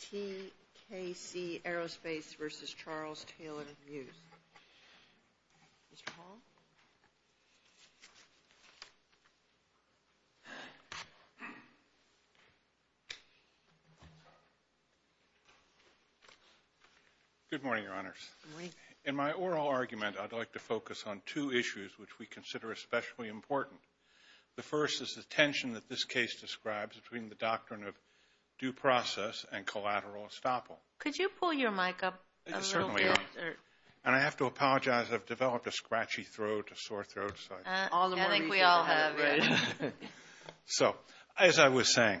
TKC Aerospace Inc. v. Charles Taylor Muhs Good morning, Your Honors. In my oral argument, I'd like to focus on two issues which we consider especially important. The first is the tension that this case describes between the doctrine of due process and collateral estoppel. Could you pull your mic up a little bit? Yes, certainly. And I have to apologize. I've developed a scratchy throat, a sore throat. I think we all have. So, as I was saying,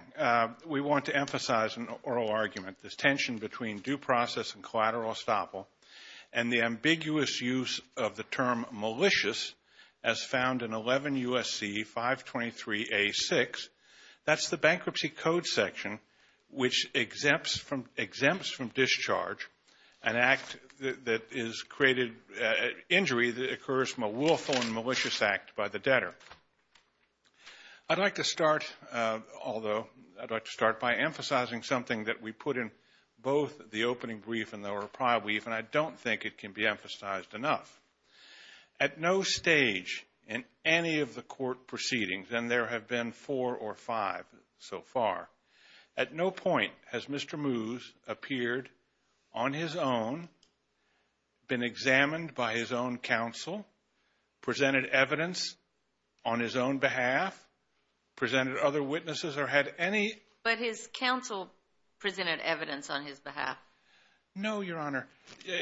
we want to emphasize in the oral argument this tension between due use of the term malicious as found in 11 U.S.C. 523 A.6. That's the Bankruptcy Code section which exempts from discharge an act that is created, an injury that occurs from a willful and malicious act by the debtor. I'd like to start, although, I'd like to start by emphasizing something that we put in both the opening brief and the reply brief, and I don't think it can be emphasized enough. At no stage in any of the court proceedings, and there have been four or five so far, at no point has Mr. Muhs appeared on his own, been examined by his own counsel, presented evidence on his own behalf, presented other witnesses, or had any... No, Your Honor.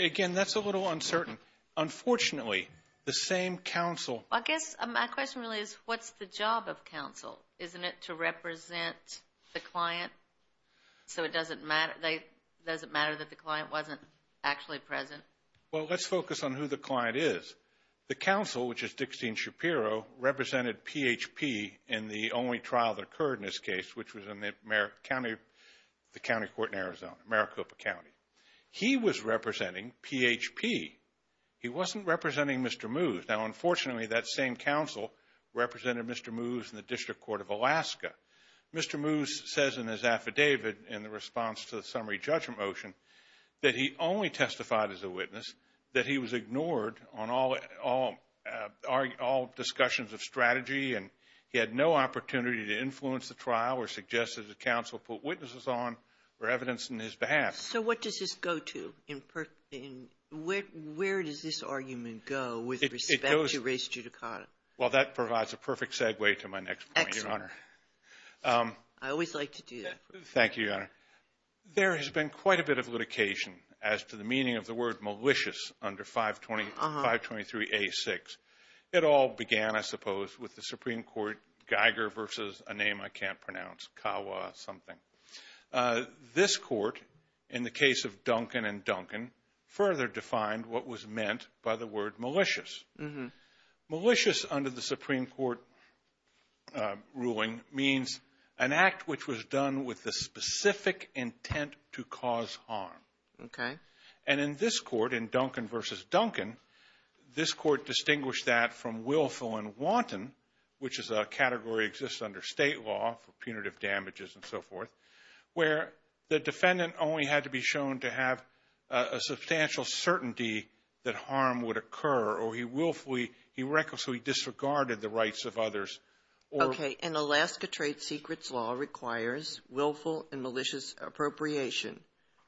Again, that's a little uncertain. Unfortunately, the same counsel... I guess my question really is, what's the job of counsel? Isn't it to represent the client? So it doesn't matter that the client wasn't actually present? Well, let's focus on who the client is. The counsel, which is Dickstein Shapiro, represented PHP in the only trial that occurred in this case, which was in the county court in Arizona, Maricopa County. He was representing PHP. He wasn't representing Mr. Muhs. Now, unfortunately, that same counsel represented Mr. Muhs in the District Court of Alaska. Mr. Muhs says in his affidavit, in the response to the summary judgment motion, that he only testified as a witness, that he was ignored on all discussions of strategy, and he had no opportunity to influence the trial or suggest that the counsel put witnesses on or evidence on his behalf. So what does this go to? Where does this argument go with respect to race judicata? Well, that provides a perfect segue to my next point, Your Honor. I always like to do that. Thank you, Your Honor. There has been quite a bit of litigation as to the meaning of the word malicious under 523A6. It all began, I suppose, with the Supreme Court Geiger versus a name I can't pronounce, Kawa something. This court, in the case of Duncan and Duncan, further defined what was meant by the word malicious. Malicious under the Supreme Court ruling means an act which was done with the specific intent to cause harm. Okay. And in this court, in Duncan versus Duncan, this court distinguished that from willful and wanton, which is a category that exists under state law for punitive damages and so forth, where the defendant only had to be shown to have a substantial certainty that harm would occur, or he willfully, he recklessly disregarded the rights of others. Okay. And Alaska Trade Secrets Law requires willful and malicious appropriation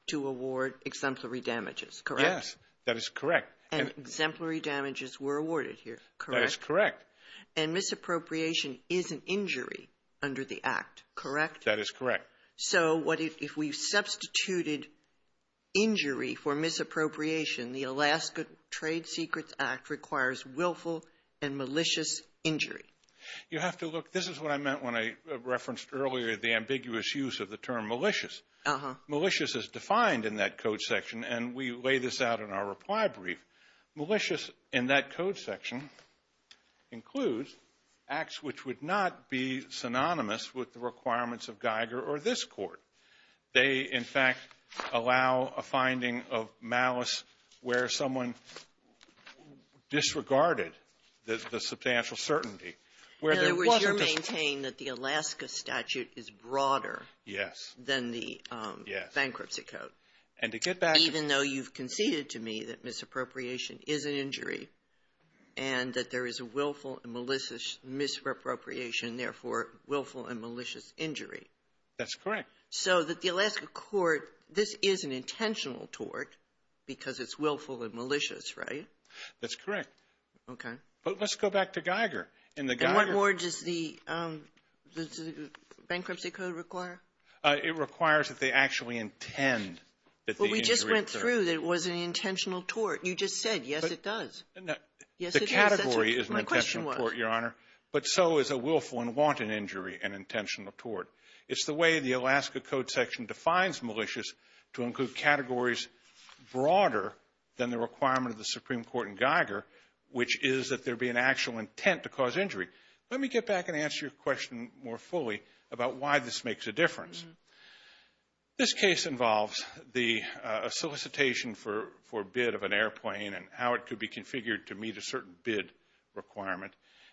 to award exemplary damages, correct? Yes, that is correct. And exemplary damages were awarded here, correct? That is correct. And misappropriation is an injury under the Act, correct? That is correct. So if we substituted injury for misappropriation, the Alaska Trade Secrets Act requires willful and malicious injury. You have to look. This is what I meant when I referenced earlier the ambiguous use of the term malicious. Malicious is defined in that code section, and we lay this out in our reply brief. Malicious in that code section includes acts which would not be synonymous with the requirements of Geiger or this court. They, in fact, allow a finding of malice where someone disregarded the substantial certainty. In other words, you're maintaining that the Alaska statute is broader than the bankruptcy code. Yes. And to get back to you. Even though you've conceded to me that misappropriation is an injury and that there is a willful and malicious misappropriation, therefore willful and malicious injury. That's correct. So that the Alaska court, this is an intentional tort because it's willful and malicious, right? That's correct. Okay. But let's go back to Geiger. And what more does the bankruptcy code require? It requires that they actually intend that the injury occur. But we just went through that it was an intentional tort. You just said, yes, it does. The category is an intentional tort, Your Honor, but so is a willful and wanton injury an intentional tort. It's the way the Alaska code section defines malicious to include categories broader than the requirement of the Supreme Court in Geiger, which is that there be an actual intent to cause injury. Let me get back and answer your question more fully about why this makes a difference. This case involves the solicitation for bid of an airplane and how it could be configured to meet a certain bid requirement.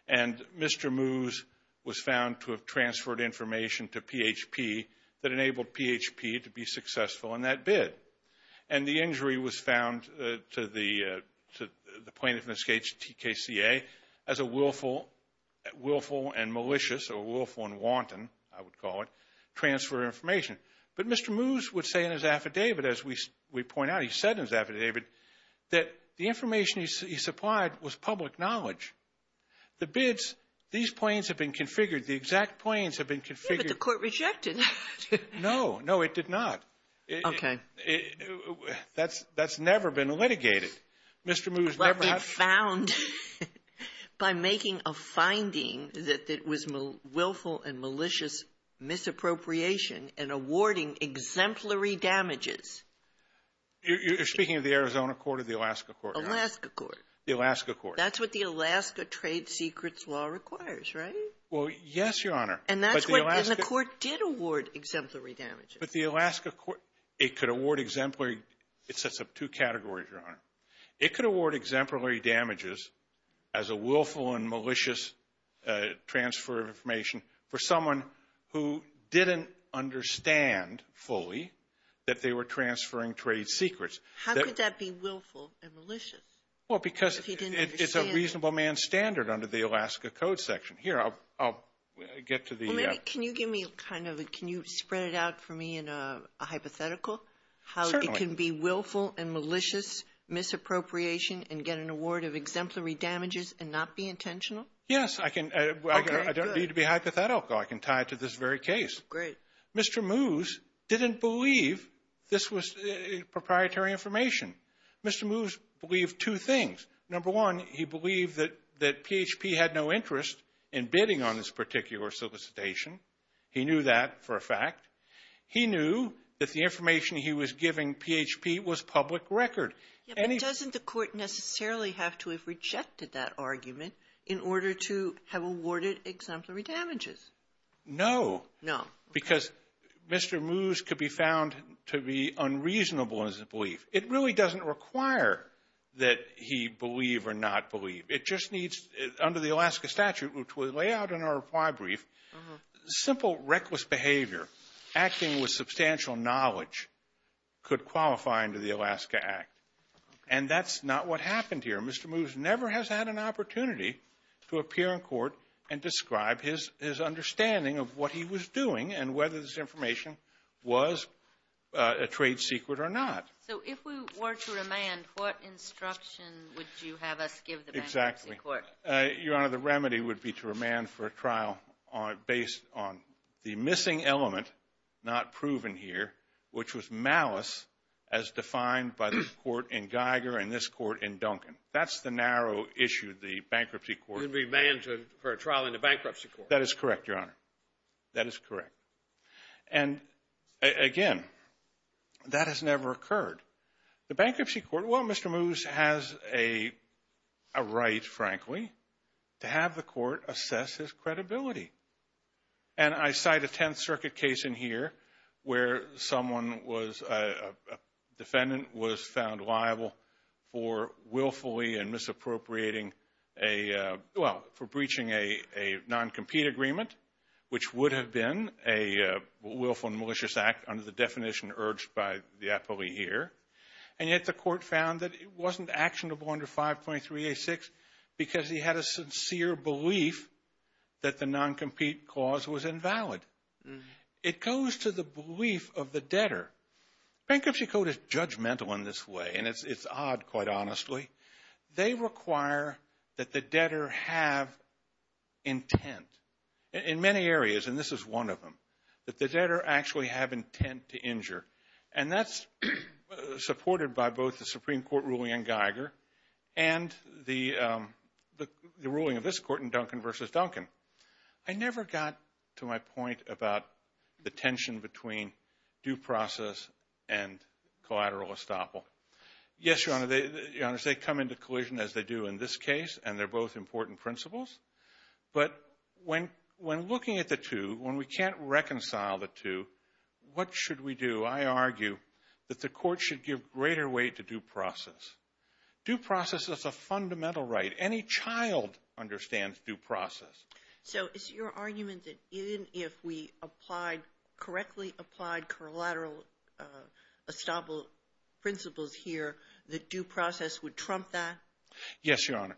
And Mr. Moos was found to have transferred information to PHP that enabled PHP to be successful in that bid. And the injury was found to the plaintiff in this case, TKCA, as a willful and malicious or willful and wanton, I would call it, transfer of information. But Mr. Moos would say in his affidavit, as we point out, he said in his affidavit, that the information he supplied was public knowledge. The bids, these planes have been configured. The exact planes have been configured. But the court rejected that. No. No, it did not. Okay. That's never been litigated. Mr. Moos never has. But it's found by making a finding that it was willful and malicious misappropriation and awarding exemplary damages. You're speaking of the Arizona court or the Alaska court? Alaska court. The Alaska court. That's what the Alaska trade secrets law requires, right? Well, yes, Your Honor. And that's what the court did award exemplary damages. But the Alaska court, it could award exemplary – it sets up two categories, Your Honor. It could award exemplary damages as a willful and malicious transfer of information for someone who didn't understand fully that they were transferring trade secrets. How could that be willful and malicious if he didn't understand? Well, because it's a reasonable man's standard under the Alaska Code section. Here, I'll get to the – Well, maybe can you give me kind of a – can you spread it out for me in a hypothetical? Certainly. How it can be willful and malicious misappropriation and get an award of exemplary damages and not be intentional? Yes, I can. Okay, good. I don't need to be hypothetical. I can tie it to this very case. Great. Mr. Moos didn't believe this was proprietary information. Mr. Moos believed two things. Number one, he believed that PHP had no interest in bidding on this particular solicitation. He knew that for a fact. He knew that the information he was giving PHP was public record. But doesn't the court necessarily have to have rejected that argument in order to have awarded exemplary damages? No. No. Because Mr. Moos could be found to be unreasonable in his belief. It really doesn't require that he believe or not believe. It just needs – under the Alaska statute, which we lay out in our reply brief, simple reckless behavior acting with substantial knowledge could qualify under the Alaska Act. And that's not what happened here. Mr. Moos never has had an opportunity to appear in court and describe his understanding of what he was doing and whether this information was a trade secret or not. So if we were to remand, what instruction would you have us give the bankruptcy court? Exactly. Your Honor, the remedy would be to remand for a trial based on the missing element not proven here, which was malice as defined by the court in Geiger and this court in Duncan. That's the narrow issue the bankruptcy court – Remand for a trial in the bankruptcy court. That is correct, Your Honor. That is correct. And, again, that has never occurred. The bankruptcy court – well, Mr. Moos has a right, frankly, to have the court assess his credibility. And I cite a Tenth Circuit case in here where someone was – a defendant was found liable for willfully and misappropriating a – well, for breaching a non-compete agreement, which would have been a willful and malicious act under the definition urged by the appellee here. And yet the court found that it wasn't actionable under 5.386 because he had a sincere belief that the non-compete clause was invalid. It goes to the belief of the debtor. Bankruptcy court is judgmental in this way, and it's odd, quite honestly. They require that the debtor have intent in many areas, and this is one of them, that the debtor actually have intent to injure. And that's supported by both the Supreme Court ruling in Geiger and the ruling of this court in Duncan v. Duncan. I never got to my point about the tension between due process and collateral estoppel. Yes, Your Honor, they come into collision as they do in this case, and they're both important principles. But when looking at the two, when we can't reconcile the two, what should we do? I argue that the court should give greater weight to due process. Due process is a fundamental right. Any child understands due process. So is your argument that even if we applied, correctly applied collateral estoppel principles here, that due process would trump that? Yes, Your Honor.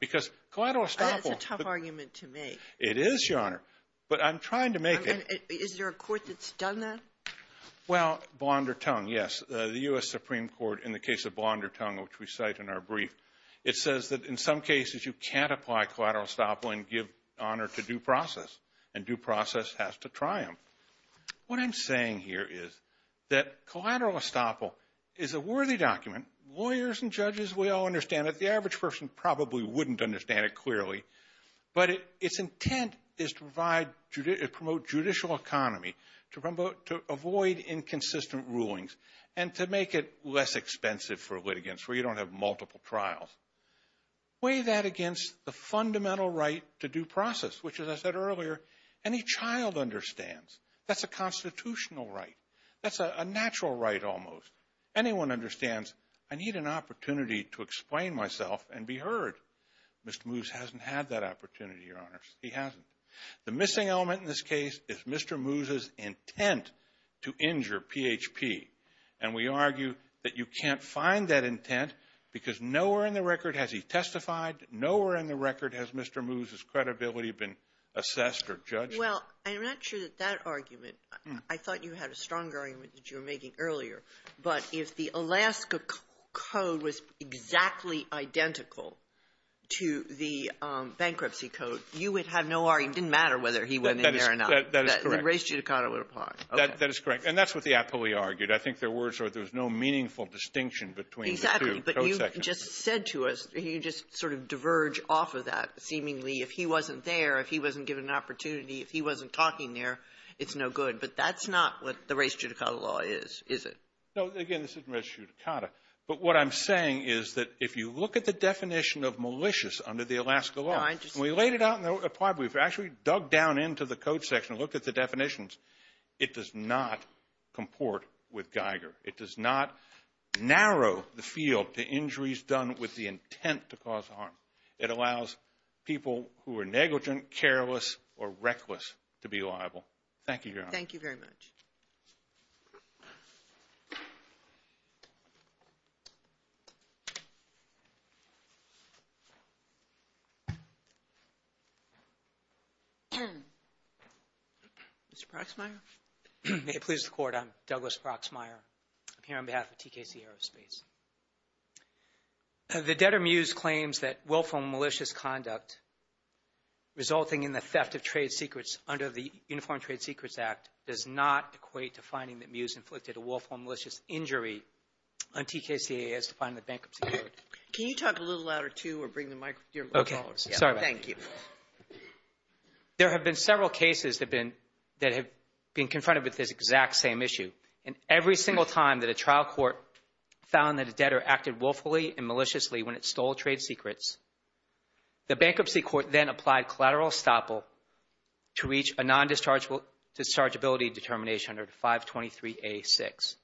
Because collateral estoppel. That is a tough argument to make. It is, Your Honor, but I'm trying to make it. Is there a court that's done that? Well, Blondertongue, yes, the U.S. Supreme Court in the case of Blondertongue, which we cite in our brief, it says that in some cases you can't apply collateral estoppel and give honor to due process, and due process has to triumph. What I'm saying here is that collateral estoppel is a worthy document. Lawyers and judges, we all understand it. The average person probably wouldn't understand it clearly. But its intent is to promote judicial economy, to avoid inconsistent rulings, and to make it less expensive for litigants where you don't have multiple trials. Weigh that against the fundamental right to due process, which, as I said earlier, any child understands. That's a constitutional right. That's a natural right almost. Anyone understands, I need an opportunity to explain myself and be heard. Mr. Moose hasn't had that opportunity, Your Honors. He hasn't. The missing element in this case is Mr. Moose's intent to injure PHP. And we argue that you can't find that intent because nowhere in the record has he testified. Nowhere in the record has Mr. Moose's credibility been assessed or judged. Well, I'm not sure that that argument, I thought you had a stronger argument that you were making earlier. But if the Alaska Code was exactly identical to the Bankruptcy Code, you would have no argument. It didn't matter whether he went in there or not. That is correct. The race judicata would apply. That is correct. And that's what the appellee argued. I think there was no meaningful distinction between the two. Exactly. But you just said to us, you just sort of diverge off of that, seemingly if he wasn't there, if he wasn't given an opportunity, if he wasn't talking there, it's no good. But that's not what the race judicata law is, is it? No, again, this isn't race judicata. But what I'm saying is that if you look at the definition of malicious under the Alaska law, and we laid it out in the appellee, we've actually dug down into the code section and looked at the definitions, it does not comport with Geiger. It does not narrow the field to injuries done with the intent to cause harm. It allows people who are negligent, careless, or reckless to be liable. Thank you, Your Honor. Thank you very much. Mr. Proxmire? May it please the Court, I'm Douglas Proxmire. I'm here on behalf of TKC Aerospace. The debtor mused claims that willful malicious conduct resulting in the theft of trade secrets under the Uniform Trade Secrets Act does not equate to finding that Muse inflicted a willful malicious injury on TKC as defined in the bankruptcy code. Can you talk a little louder, too, or bring the microphone forward? Okay. Sorry about that. Thank you. There have been several cases that have been confronted with this exact same issue. And every single time that a trial court found that a debtor acted willfully and maliciously when it stole trade secrets, the bankruptcy court then applied collateral estoppel to reach a non-dischargeability determination under 523A6.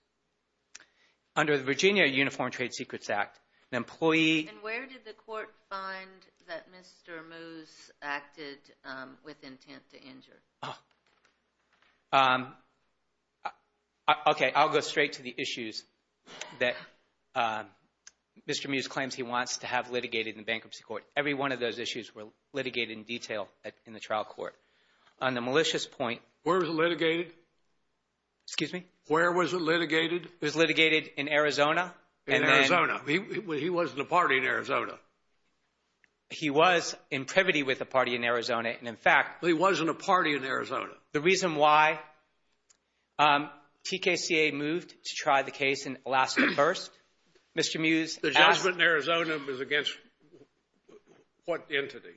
Under the Virginia Uniform Trade Secrets Act, an employee... And where did the court find that Mr. Muse acted with intent to injure? Okay, I'll go straight to the issues that Mr. Muse claims he wants to have litigated in the bankruptcy court. Every one of those issues were litigated in detail in the trial court. On the malicious point... Where was it litigated? Excuse me? Where was it litigated? It was litigated in Arizona. In Arizona. He wasn't a party in Arizona. He was in privity with a party in Arizona. And in fact... He wasn't a party in Arizona. The reason why TKCA moved to try the case in Alaska first, Mr. Muse... The judgment in Arizona was against what entity?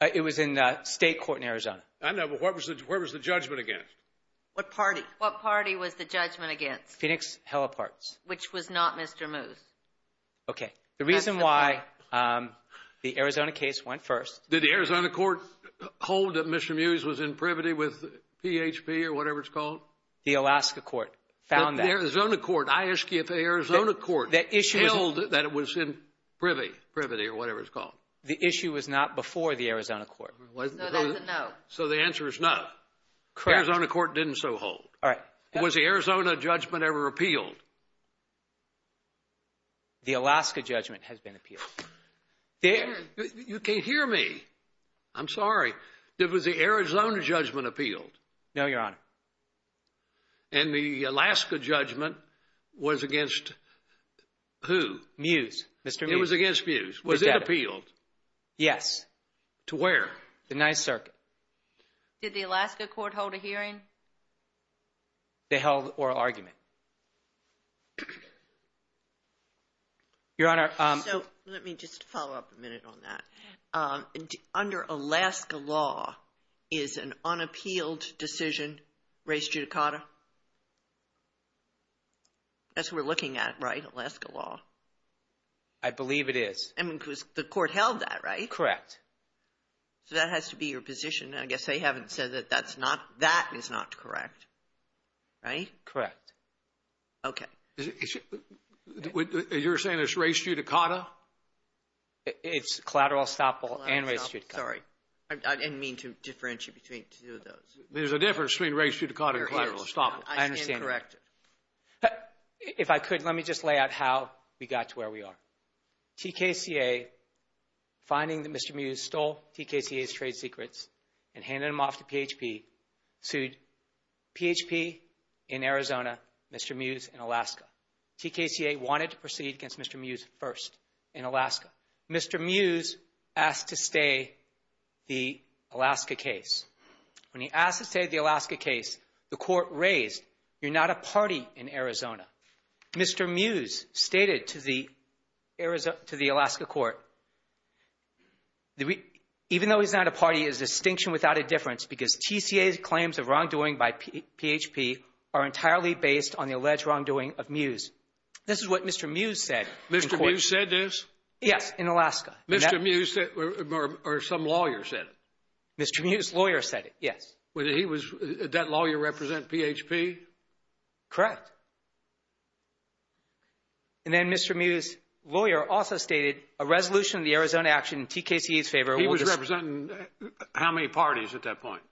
It was in state court in Arizona. I know, but where was the judgment against? What party? What party was the judgment against? Phoenix Heliparts. Which was not Mr. Muse. Okay, the reason why the Arizona case went first... Did the Arizona court hold that Mr. Muse was in privity with PHP or whatever it's called? The Alaska court found that. The Arizona court. I ask you if the Arizona court held that it was in privity or whatever it's called. The issue was not before the Arizona court. No, that's a no. So the answer is no. Correct. The Arizona court didn't so hold. All right. Was the Arizona judgment ever appealed? The Alaska judgment has been appealed. You can't hear me. I'm sorry. Was the Arizona judgment appealed? No, Your Honor. And the Alaska judgment was against who? Muse. It was against Muse. Was it appealed? Yes. To where? The 9th Circuit. Did the Alaska court hold a hearing? They held oral argument. Your Honor... So let me just follow up a minute on that. Under Alaska law, is an unappealed decision race judicata? That's what we're looking at, right? Alaska law. I believe it is. I mean, because the court held that, right? Correct. So that has to be your position. I guess they haven't said that that is not correct. Right? Correct. Okay. You're saying it's race judicata? It's collateral estoppel and race judicata. Sorry. I didn't mean to differentiate between two of those. There's a difference between race judicata and collateral estoppel. I understand. I am corrected. If I could, let me just lay out how we got to where we are. TKCA, finding that Mr. Muse stole TKCA's trade secrets and handed them off to PHP, sued PHP in Arizona, Mr. Muse in Alaska. TKCA wanted to proceed against Mr. Muse first in Alaska. Mr. Muse asked to stay the Alaska case. When he asked to stay the Alaska case, the court raised, you're not a party in Arizona. Mr. Muse stated to the Alaska court, even though he's not a party, is distinction without a difference because TKCA's claims of wrongdoing by PHP are entirely based on the alleged wrongdoing of Muse. This is what Mr. Muse said in court. Mr. Muse said this? Yes, in Alaska. Mr. Muse or some lawyer said it? Mr. Muse's lawyer said it, yes. Did that lawyer represent PHP? Correct. He was representing how many parties at that point?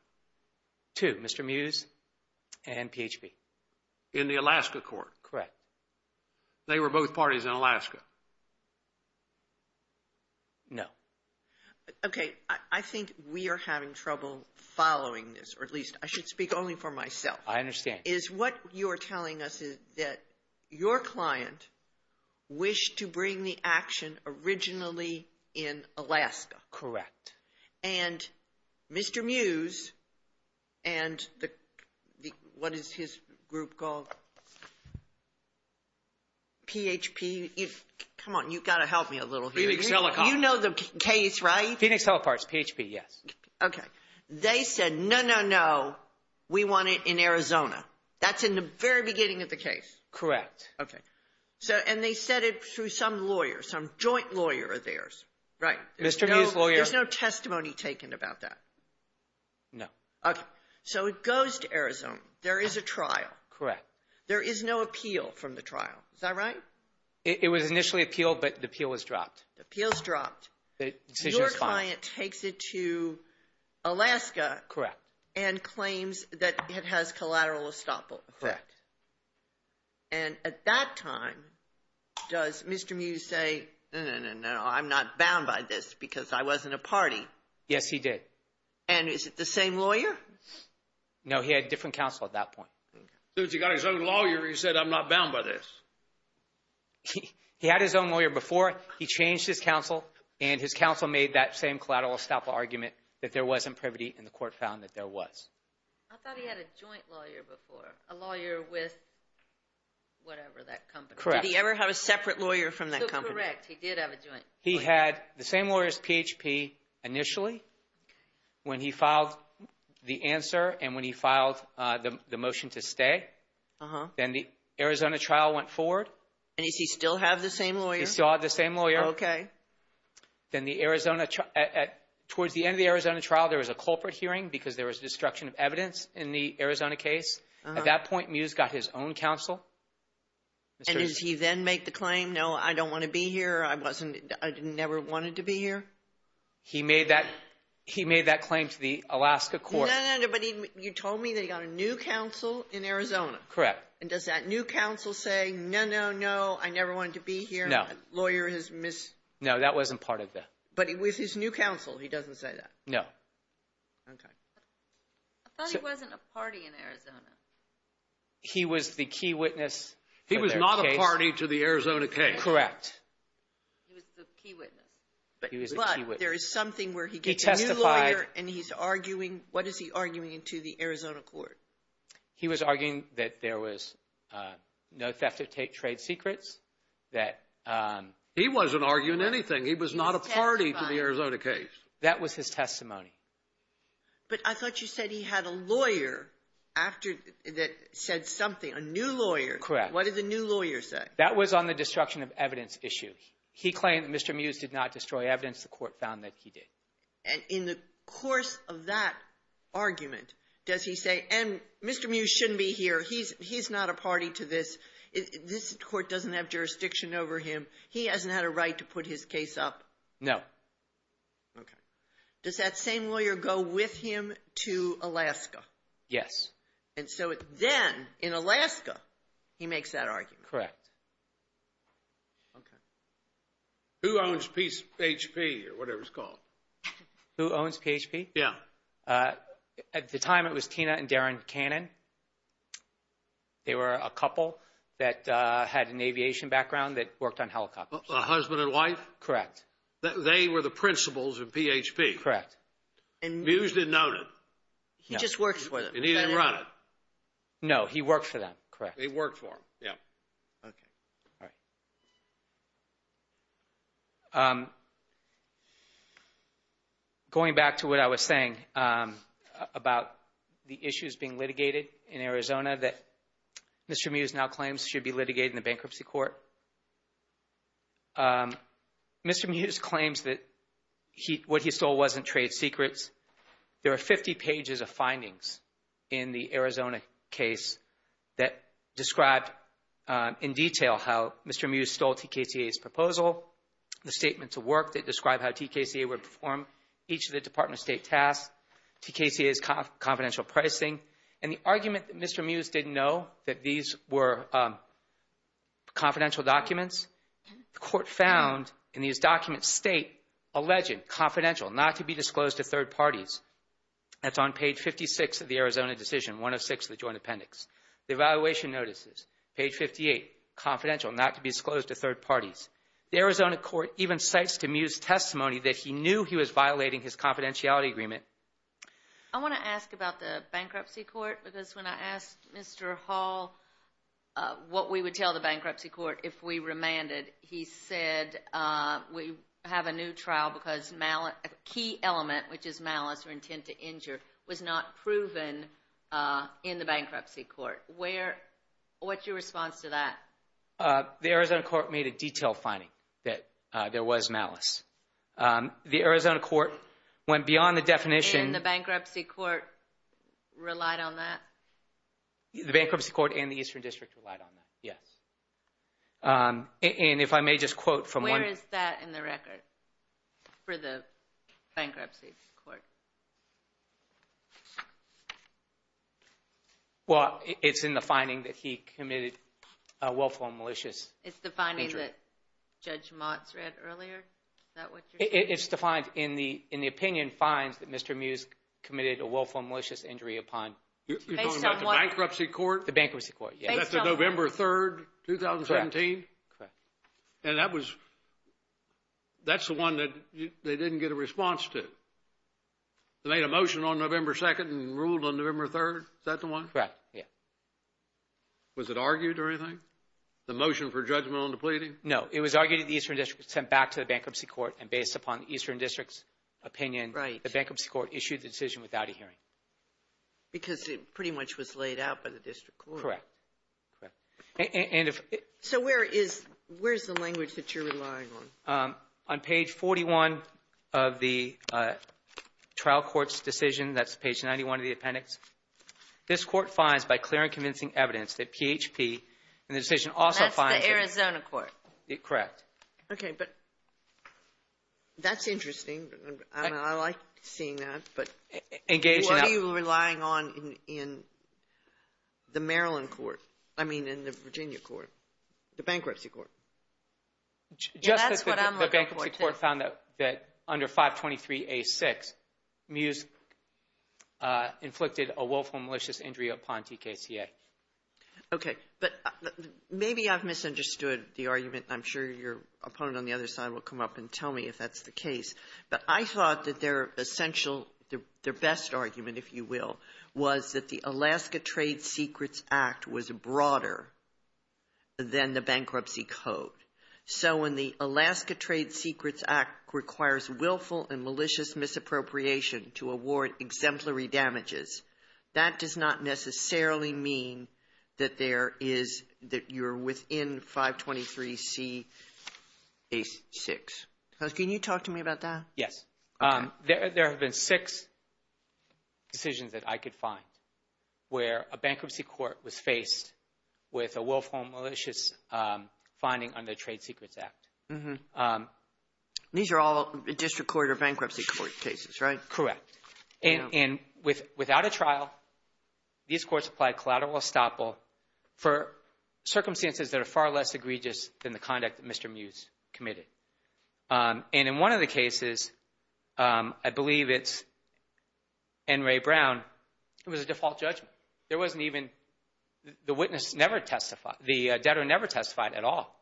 Two, Mr. Muse and PHP. In the Alaska court? Correct. They were both parties in Alaska? No. Okay, I think we are having trouble following this, or at least I should speak only for myself. I understand. What you're telling us is that your client wished to bring the action originally in Alaska. Correct. And Mr. Muse and the, what is his group called? PHP, come on, you've got to help me a little here. Phoenix Telecom. You know the case, right? Phoenix Telecom is PHP, yes. Okay. They said, no, no, no, we want it in Arizona. That's in the very beginning of the case? Correct. Okay. And they said it through some lawyer, some joint lawyer of theirs, right? Mr. Muse's lawyer. There's no testimony taken about that? No. Okay. So it goes to Arizona. There is a trial. Correct. There is no appeal from the trial. Is that right? It was initially appealed, but the appeal was dropped. The appeal was dropped. The decision is final. Your client takes it to Alaska. Correct. And claims that it has collateral estoppel effect. Correct. And at that time, does Mr. Muse say, no, no, no, no, I'm not bound by this because I wasn't a party? Yes, he did. And is it the same lawyer? No, he had a different counsel at that point. Okay. So he's got his own lawyer, he said, I'm not bound by this. He had his own lawyer before. He changed his counsel, and his counsel made that same collateral estoppel argument that there wasn't privity, and the court found that there was. I thought he had a joint lawyer before, a lawyer with whatever that company. Correct. Did he ever have a separate lawyer from that company? Correct. He did have a joint. He had the same lawyer as PHP initially when he filed the answer and when he filed the motion to stay. Uh-huh. Then the Arizona trial went forward. And does he still have the same lawyer? He still had the same lawyer. Okay. Then the Arizona trial, towards the end of the Arizona trial, there was a culprit hearing because there was destruction of evidence in the Arizona case. Uh-huh. At that point, Muse got his own counsel. And did he then make the claim, no, I don't want to be here, I never wanted to be here? He made that claim to the Alaska court. No, no, no, but you told me that he got a new counsel in Arizona. Correct. And does that new counsel say, no, no, no, I never wanted to be here? No. Lawyer has missed. No, that wasn't part of the. But with his new counsel, he doesn't say that? No. Okay. I thought he wasn't a party in Arizona. He was the key witness. He was not a party to the Arizona case. Correct. He was the key witness. But there is something where he gets a new lawyer and he's arguing. What is he arguing to the Arizona court? He was arguing that there was no theft of trade secrets, that. He wasn't arguing anything. He was not a party to the Arizona case. That was his testimony. But I thought you said he had a lawyer after that said something, a new lawyer. Correct. What did the new lawyer say? That was on the destruction of evidence issue. He claimed that Mr. Muse did not destroy evidence. The court found that he did. And in the course of that argument, does he say, and Mr. Muse shouldn't be here. He's not a party to this. This court doesn't have jurisdiction over him. He hasn't had a right to put his case up. No. Okay. Does that same lawyer go with him to Alaska? Yes. And so then in Alaska, he makes that argument. Correct. Okay. Who owns PHP or whatever it's called? Who owns PHP? Yeah. At the time, it was Tina and Darren Cannon. They were a couple that had an aviation background that worked on helicopters. A husband and wife? Correct. They were the principals of PHP. Correct. And Muse didn't own it? No. He just worked for them. And he didn't run it? No, he worked for them. Correct. He worked for them. Yeah. Okay. All right. Going back to what I was saying about the issues being litigated in Arizona that Mr. Muse now claims should be litigated in the bankruptcy court, Mr. Muse claims that what he stole wasn't trade secrets. There are 50 pages of findings in the Arizona case that describe in detail how Mr. Muse stole TKCA's proposal, the statements of work that describe how TKCA would perform each of the Department of State tasks, TKCA's confidential pricing, and the argument that Mr. Muse didn't know that these were confidential documents. The court found in these documents state alleged confidential, not to be disclosed to third parties. That's on page 56 of the Arizona decision, 106 of the joint appendix. The evaluation notices, page 58, confidential, not to be disclosed to third parties. The Arizona court even cites to Muse's testimony that he knew he was violating his confidentiality agreement. I want to ask about the bankruptcy court because when I asked Mr. Hall what we would tell the defendant, he said we have a new trial because a key element, which is malice or intent to injure, was not proven in the bankruptcy court. What's your response to that? The Arizona court made a detailed finding that there was malice. The Arizona court went beyond the definition. And the bankruptcy court relied on that? The bankruptcy court and the Eastern District relied on that, yes. And if I may just quote from one- Where is that in the record for the bankruptcy court? Well, it's in the finding that he committed a willful and malicious injury. It's the finding that Judge Motz read earlier? Is that what you're saying? It's defined in the opinion finds that Mr. Muse committed a willful and malicious injury upon- You're talking about the bankruptcy court? The bankruptcy court, yes. That's on November 3rd, 2017? Correct. And that's the one that they didn't get a response to? They made a motion on November 2nd and ruled on November 3rd? Is that the one? Correct, yes. Was it argued or anything? The motion for judgment on the pleading? No, it was argued that the Eastern District was sent back to the bankruptcy court and based upon the Eastern District's opinion, the bankruptcy court issued the decision without a hearing. Because it pretty much was laid out by the district court? Correct. And if- So where is the language that you're relying on? On page 41 of the trial court's decision, that's page 91 of the appendix, this court finds by clear and convincing evidence that PHP in the decision also finds- That's the Arizona court? Correct. Okay, but that's interesting. I like seeing that, but- What are you relying on in the Maryland court? I mean, in the Virginia court, the bankruptcy court? Just that the bankruptcy court found that under 523A6, MUSE inflicted a willful malicious injury upon TKCA. Okay, but maybe I've misunderstood the argument. I'm sure your opponent on the other side will come up and tell me if that's the case. But I thought that their essential, their best argument, if you will, was that the Alaska Trade Secrets Act was broader than the bankruptcy code. So when the Alaska Trade Secrets Act requires willful and malicious misappropriation to award exemplary damages, that does not necessarily mean that there is, that you're within 523CA6. Can you talk to me about that? Yes. Okay. There have been six decisions that I could find where a bankruptcy court was faced with a willful and malicious finding under the Trade Secrets Act. These are all district court or bankruptcy court cases, right? Correct. And without a trial, these courts applied collateral estoppel for circumstances that are far less egregious than the conduct that Mr. MUSE committed. And in one of the cases, I believe it's N. Ray Brown, it was a default judgment. There wasn't even, the witness never testified, the debtor never testified at all.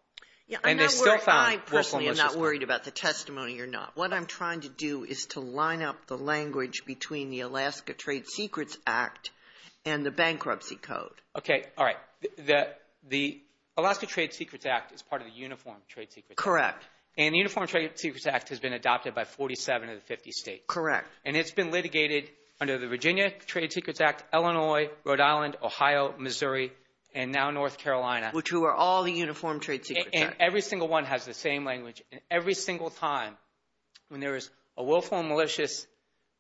And they still found willful and malicious. I personally am not worried about the testimony or not. What I'm trying to do is to line up the language between the Alaska Trade Secrets Act and the bankruptcy code. Okay. All right. The Alaska Trade Secrets Act is part of the Uniform Trade Secrets Act. Correct. And the Uniform Trade Secrets Act has been adopted by 47 of the 50 states. Correct. And it's been litigated under the Virginia Trade Secrets Act, Illinois, Rhode Island, Ohio, Missouri, and now North Carolina. Which were all the Uniform Trade Secrets Act. And every single one has the same language. And every single time when there is a willful and malicious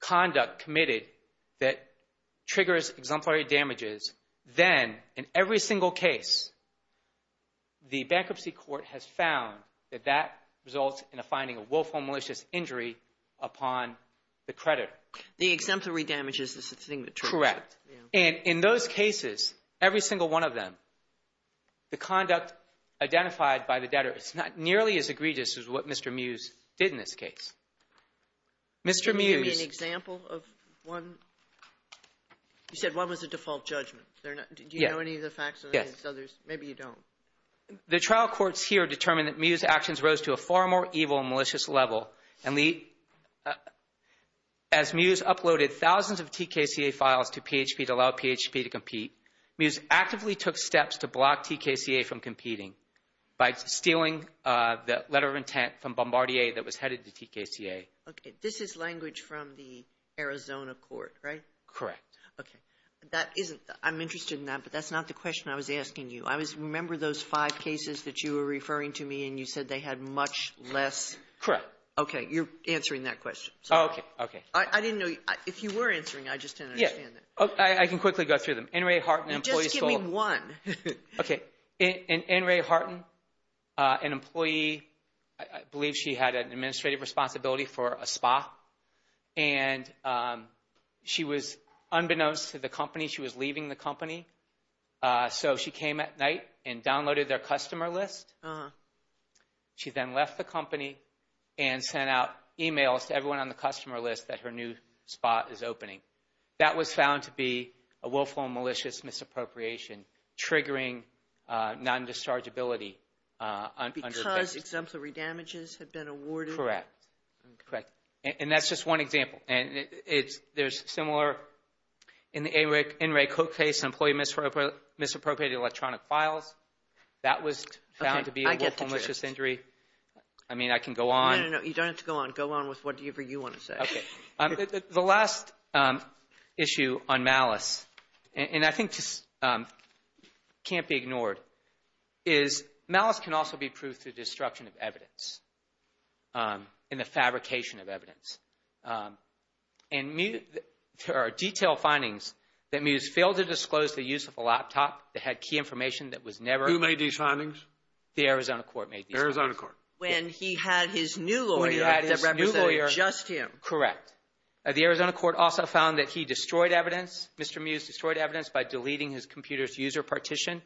conduct committed that triggers exemplary damages, then in every single case, the bankruptcy court has found that that results in a finding of willful and malicious injury upon the creditor. The exemplary damages is the thing that triggers it. Correct. And in those cases, every single one of them, the conduct identified by the debtor is not nearly as egregious as what Mr. Mews did in this case. Mr. Mews… Can you give me an example of one? You said one was a default judgment. Do you know any of the facts? Yes. Maybe you don't. The trial courts here determined that Mews' actions rose to a far more evil and malicious level. And as Mews uploaded thousands of TKCA files to PHP to allow PHP to compete, Mews actively took steps to block TKCA from competing by stealing the letter of intent from Bombardier that was headed to TKCA. Okay. This is language from the Arizona court, right? Correct. Okay. I'm interested in that, but that's not the question I was asking you. I remember those five cases that you were referring to me, and you said they had much less… Correct. Okay. You're answering that question. Okay. I didn't know. If you were answering, I just didn't understand that. Yes. I can quickly go through them. N. Ray Harton, an employee… Just give me one. Okay. And she was unbeknownst to the company. She was leaving the company. So she came at night and downloaded their customer list. She then left the company and sent out emails to everyone on the customer list that her new spa is opening. That was found to be a willful and malicious misappropriation, triggering non-dischargeability. Because exemplary damages had been awarded? Correct. Correct. And that's just one example. And there's similar in the N. Ray Coke case, employee misappropriated electronic files. That was found to be a willful and malicious injury. I mean, I can go on. No, no, no. You don't have to go on. Go on with whatever you want to say. Okay. The last issue on malice, and I think this can't be ignored, is malice can also be proved through destruction of evidence. And the fabrication of evidence. And there are detailed findings that Mewes failed to disclose the use of a laptop that had key information that was never — Who made these findings? The Arizona court made these findings. Arizona court. When he had his new lawyer that represented just him. Correct. The Arizona court also found that he destroyed evidence, Mr. Mewes destroyed evidence, by deleting his computer's user partition.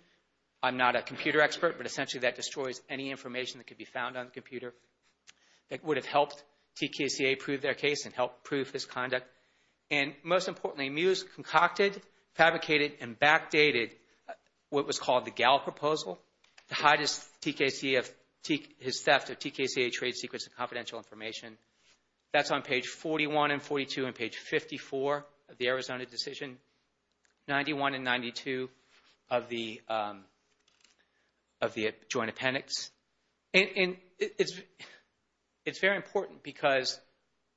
I'm not a computer expert, but essentially that destroys any information that could be found on the computer that would have helped TKCA prove their case and help prove his conduct. And most importantly, Mewes concocted, fabricated, and backdated what was called the Gallup proposal to hide his theft of TKCA trade secrets and confidential information. That's on page 41 and 42 and page 54 of the Arizona decision. 91 and 92 of the joint appendix. And it's very important because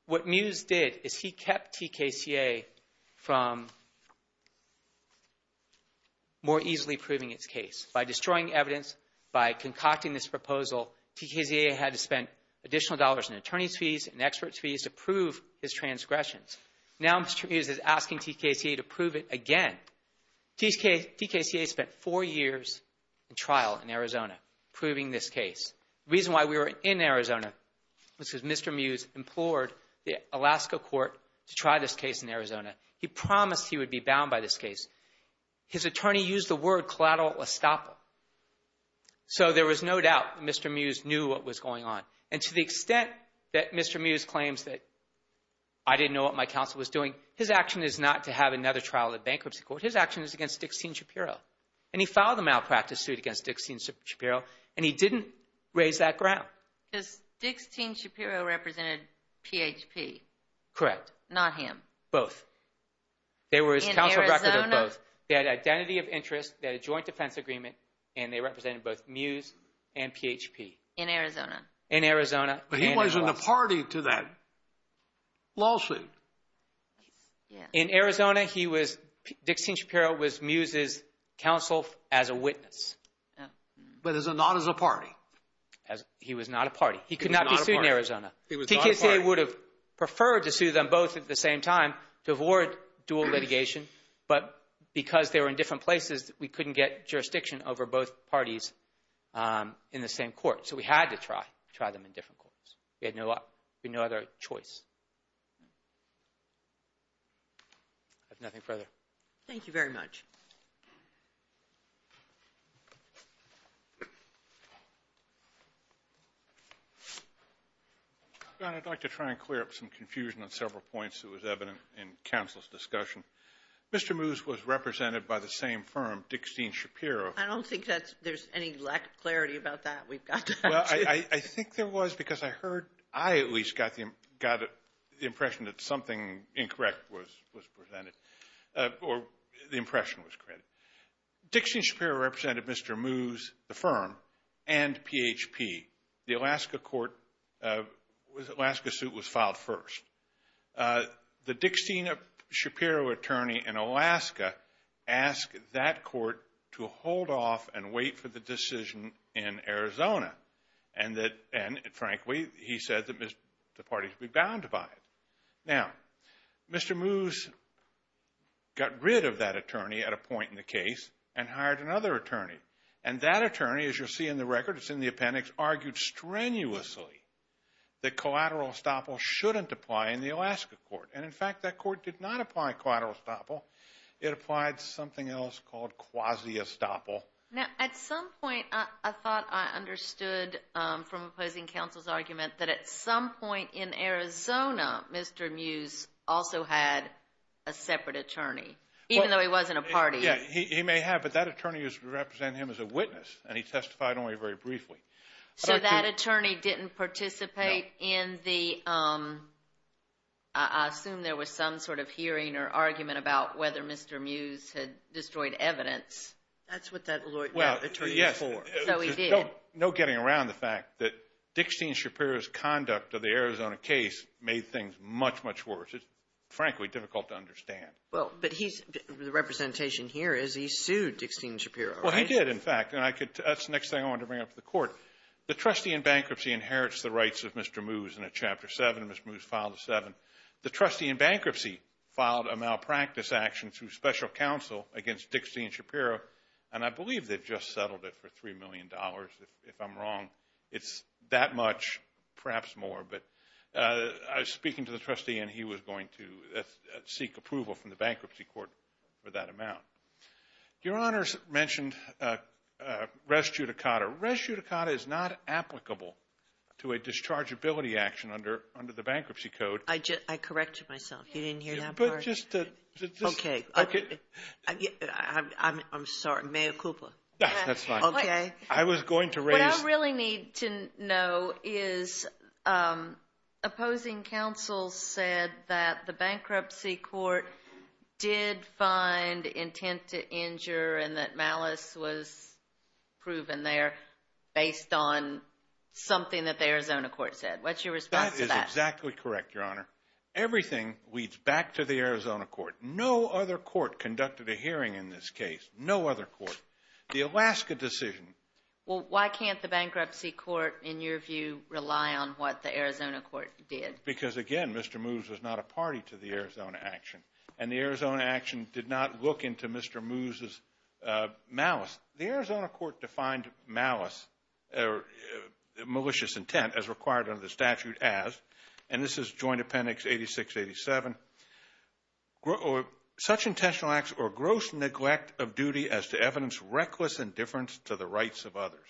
what Mewes did is he kept TKCA from more easily proving its case. By destroying evidence, by concocting this proposal, TKCA had to spend additional dollars in attorney's fees and expert fees to prove his transgressions. Now Mr. Mewes is asking TKCA to prove it again. TKCA spent four years in trial in Arizona proving this case. The reason why we were in Arizona was because Mr. Mewes implored the Alaska court to try this case in Arizona. He promised he would be bound by this case. His attorney used the word collateral estoppel. So there was no doubt that Mr. Mewes knew what was going on. And to the extent that Mr. Mewes claims that I didn't know what my counsel was doing, his action is not to have another trial in bankruptcy court. His action is against Dixitne Shapiro. And he filed a malpractice suit against Dixitne Shapiro, and he didn't raise that ground. Because Dixitne Shapiro represented PHP. Correct. Not him. Both. In Arizona? They had identity of interest, they had a joint defense agreement, and they represented both Mewes and PHP. In Arizona? In Arizona. But he wasn't a party to that lawsuit. In Arizona, Dixitne Shapiro was Mewes' counsel as a witness. But not as a party? He was not a party. He could not be sued in Arizona. TKCA would have preferred to sue them both at the same time to avoid dual litigation. But because they were in different places, we couldn't get jurisdiction over both parties in the same court. So we had to try them in different courts. We had no other choice. I have nothing further. Thank you very much. John, I'd like to try and clear up some confusion on several points that was evident in counsel's discussion. Mr. Mewes was represented by the same firm, Dixitne Shapiro. I don't think there's any lack of clarity about that. I think there was because I heard, I at least got the impression that something incorrect was presented, or the impression was correct. Dixitne Shapiro represented Mr. Mewes, the firm, and PHP. The Alaska court, Alaska suit was filed first. The Dixitne Shapiro attorney in Alaska asked that court to hold off and wait for the decision in Arizona. And frankly, he said that the parties would be bound by it. Now, Mr. Mewes got rid of that attorney at a point in the case and hired another attorney. And that attorney, as you'll see in the record, it's in the appendix, argued strenuously that collateral estoppel shouldn't apply in the Alaska court. And in fact, that court did not apply collateral estoppel. It applied something else called quasi-estoppel. Now, at some point, I thought I understood from opposing counsel's argument that at some point in Arizona, Mr. Mewes also had a separate attorney, even though he wasn't a party. Yeah, he may have. But that attorney is representing him as a witness, and he testified only very briefly. So that attorney didn't participate in the – I assume there was some sort of hearing or argument about whether Mr. Mewes had destroyed evidence. That's what that attorney was for. So he did. No getting around the fact that Dixitne Shapiro's conduct of the Arizona case made things much, much worse. It's frankly difficult to understand. Well, but he's – the representation here is he sued Dixitne Shapiro, right? Well, he did, in fact. And I could – that's the next thing I wanted to bring up to the court. The trustee in bankruptcy inherits the rights of Mr. Mewes in Chapter 7. Mr. Mewes filed a 7. The trustee in bankruptcy filed a malpractice action through special counsel against Dixitne Shapiro. And I believe they've just settled it for $3 million, if I'm wrong. It's that much, perhaps more. But I was speaking to the trustee, and he was going to seek approval from the bankruptcy court for that amount. Your Honors mentioned res judicata. Res judicata is not applicable to a dischargeability action under the Bankruptcy Code. I corrected myself. You didn't hear that part? But just to – Okay. I'm sorry. Mea culpa. That's fine. Okay. I was going to raise – What we really need to know is opposing counsel said that the bankruptcy court did find intent to injure and that malice was proven there based on something that the Arizona court said. What's your response to that? That is exactly correct, Your Honor. Everything leads back to the Arizona court. No other court conducted a hearing in this case. No other court. The Alaska decision. Well, why can't the bankruptcy court, in your view, rely on what the Arizona court did? Because, again, Mr. Moos was not a party to the Arizona action, and the Arizona action did not look into Mr. Moos' malice. The Arizona court defined malice or malicious intent as required under the statute as, and this is Joint Appendix 86-87, such intentional acts or gross neglect of duty as to evidence reckless indifference to the rights of others.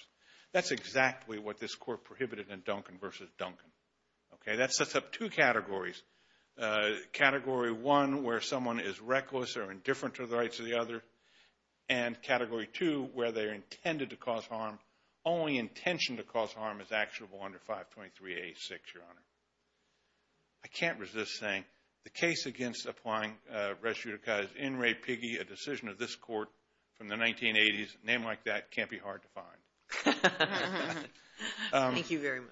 That's exactly what this court prohibited in Duncan v. Duncan. Okay. That sets up two categories. Category 1, where someone is reckless or indifferent to the rights of the other, and Category 2, where they are intended to cause harm. Only intention to cause harm is actionable under 523-86, Your Honor. I can't resist saying the case against applying res judicata is N. Ray Piggy, a decision of this court from the 1980s. A name like that can't be hard to find. Thank you very much.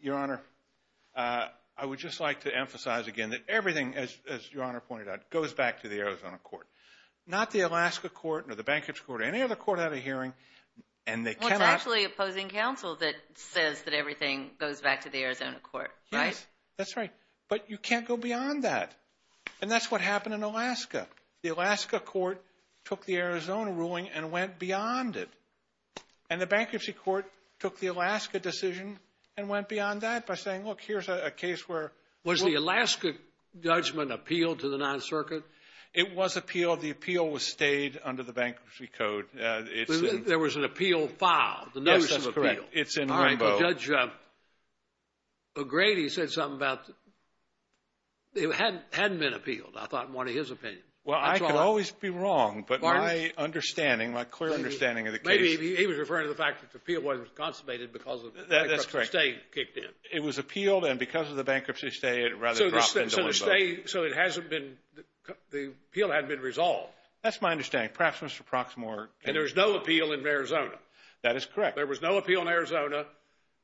Your Honor, I would just like to emphasize again that everything, as Your Honor pointed out, goes back to the Arizona court. Not the Alaska court or the bankruptcy court or any other court at a hearing, and they cannot. Well, it's actually opposing counsel that says that everything goes back to the Arizona court, right? Yes, that's right. But you can't go beyond that, and that's what happened in Alaska. The Alaska court took the Arizona ruling and went beyond it, and the bankruptcy court took the Alaska decision and went beyond that by saying, look, here's a case where. Was the Alaska judgment appealed to the non-circuit? It was appealed. The appeal was stayed under the bankruptcy code. There was an appeal filed, the notice of appeal. Yes, that's correct. It's in limbo. Judge O'Grady said something about it hadn't been appealed, I thought, in one of his opinions. Well, I could always be wrong, but my understanding, my clear understanding of the case. Maybe he was referring to the fact that the appeal wasn't consummated because the bankruptcy stay kicked in. That's correct. It was appealed, and because of the bankruptcy stay, it rather dropped into limbo. So the appeal hadn't been resolved. That's my understanding. Perhaps Mr. Proxmore. And there was no appeal in Arizona. That is correct. There was no appeal in Arizona.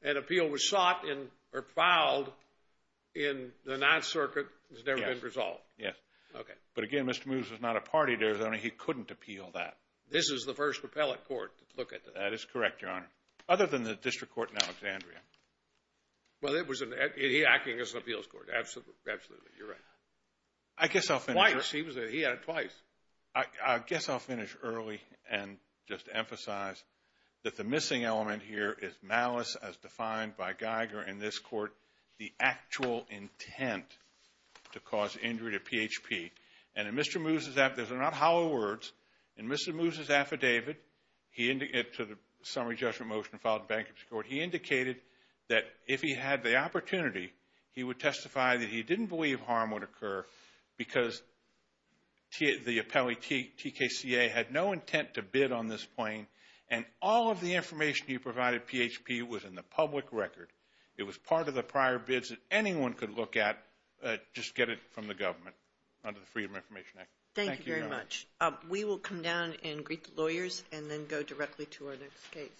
An appeal was sought or filed in the non-circuit. It's never been resolved. Yes. Okay. But, again, Mr. Moos was not a party to Arizona. He couldn't appeal that. This is the first appellate court to look at that. That is correct, Your Honor, other than the district court in Alexandria. Well, it was an acting as an appeals court. Absolutely. You're right. I guess I'll finish. Twice. He had it twice. I guess I'll finish early and just emphasize that the missing element here is malice as defined by Geiger in this court. The actual intent to cause injury to PHP. And in Mr. Moos' affidavit, these are not hollow words. In Mr. Moos' affidavit to the summary judgment motion filed in bankruptcy court, he indicated that if he had the opportunity, he would testify that he didn't believe harm would occur because the appellee, TKCA, had no intent to bid on this claim, and all of the information he provided PHP was in the public record. It was part of the prior bids that anyone could look at, just get it from the government under the Freedom of Information Act. Thank you, Your Honor. Thank you very much. We will come down and greet the lawyers and then go directly to our next case.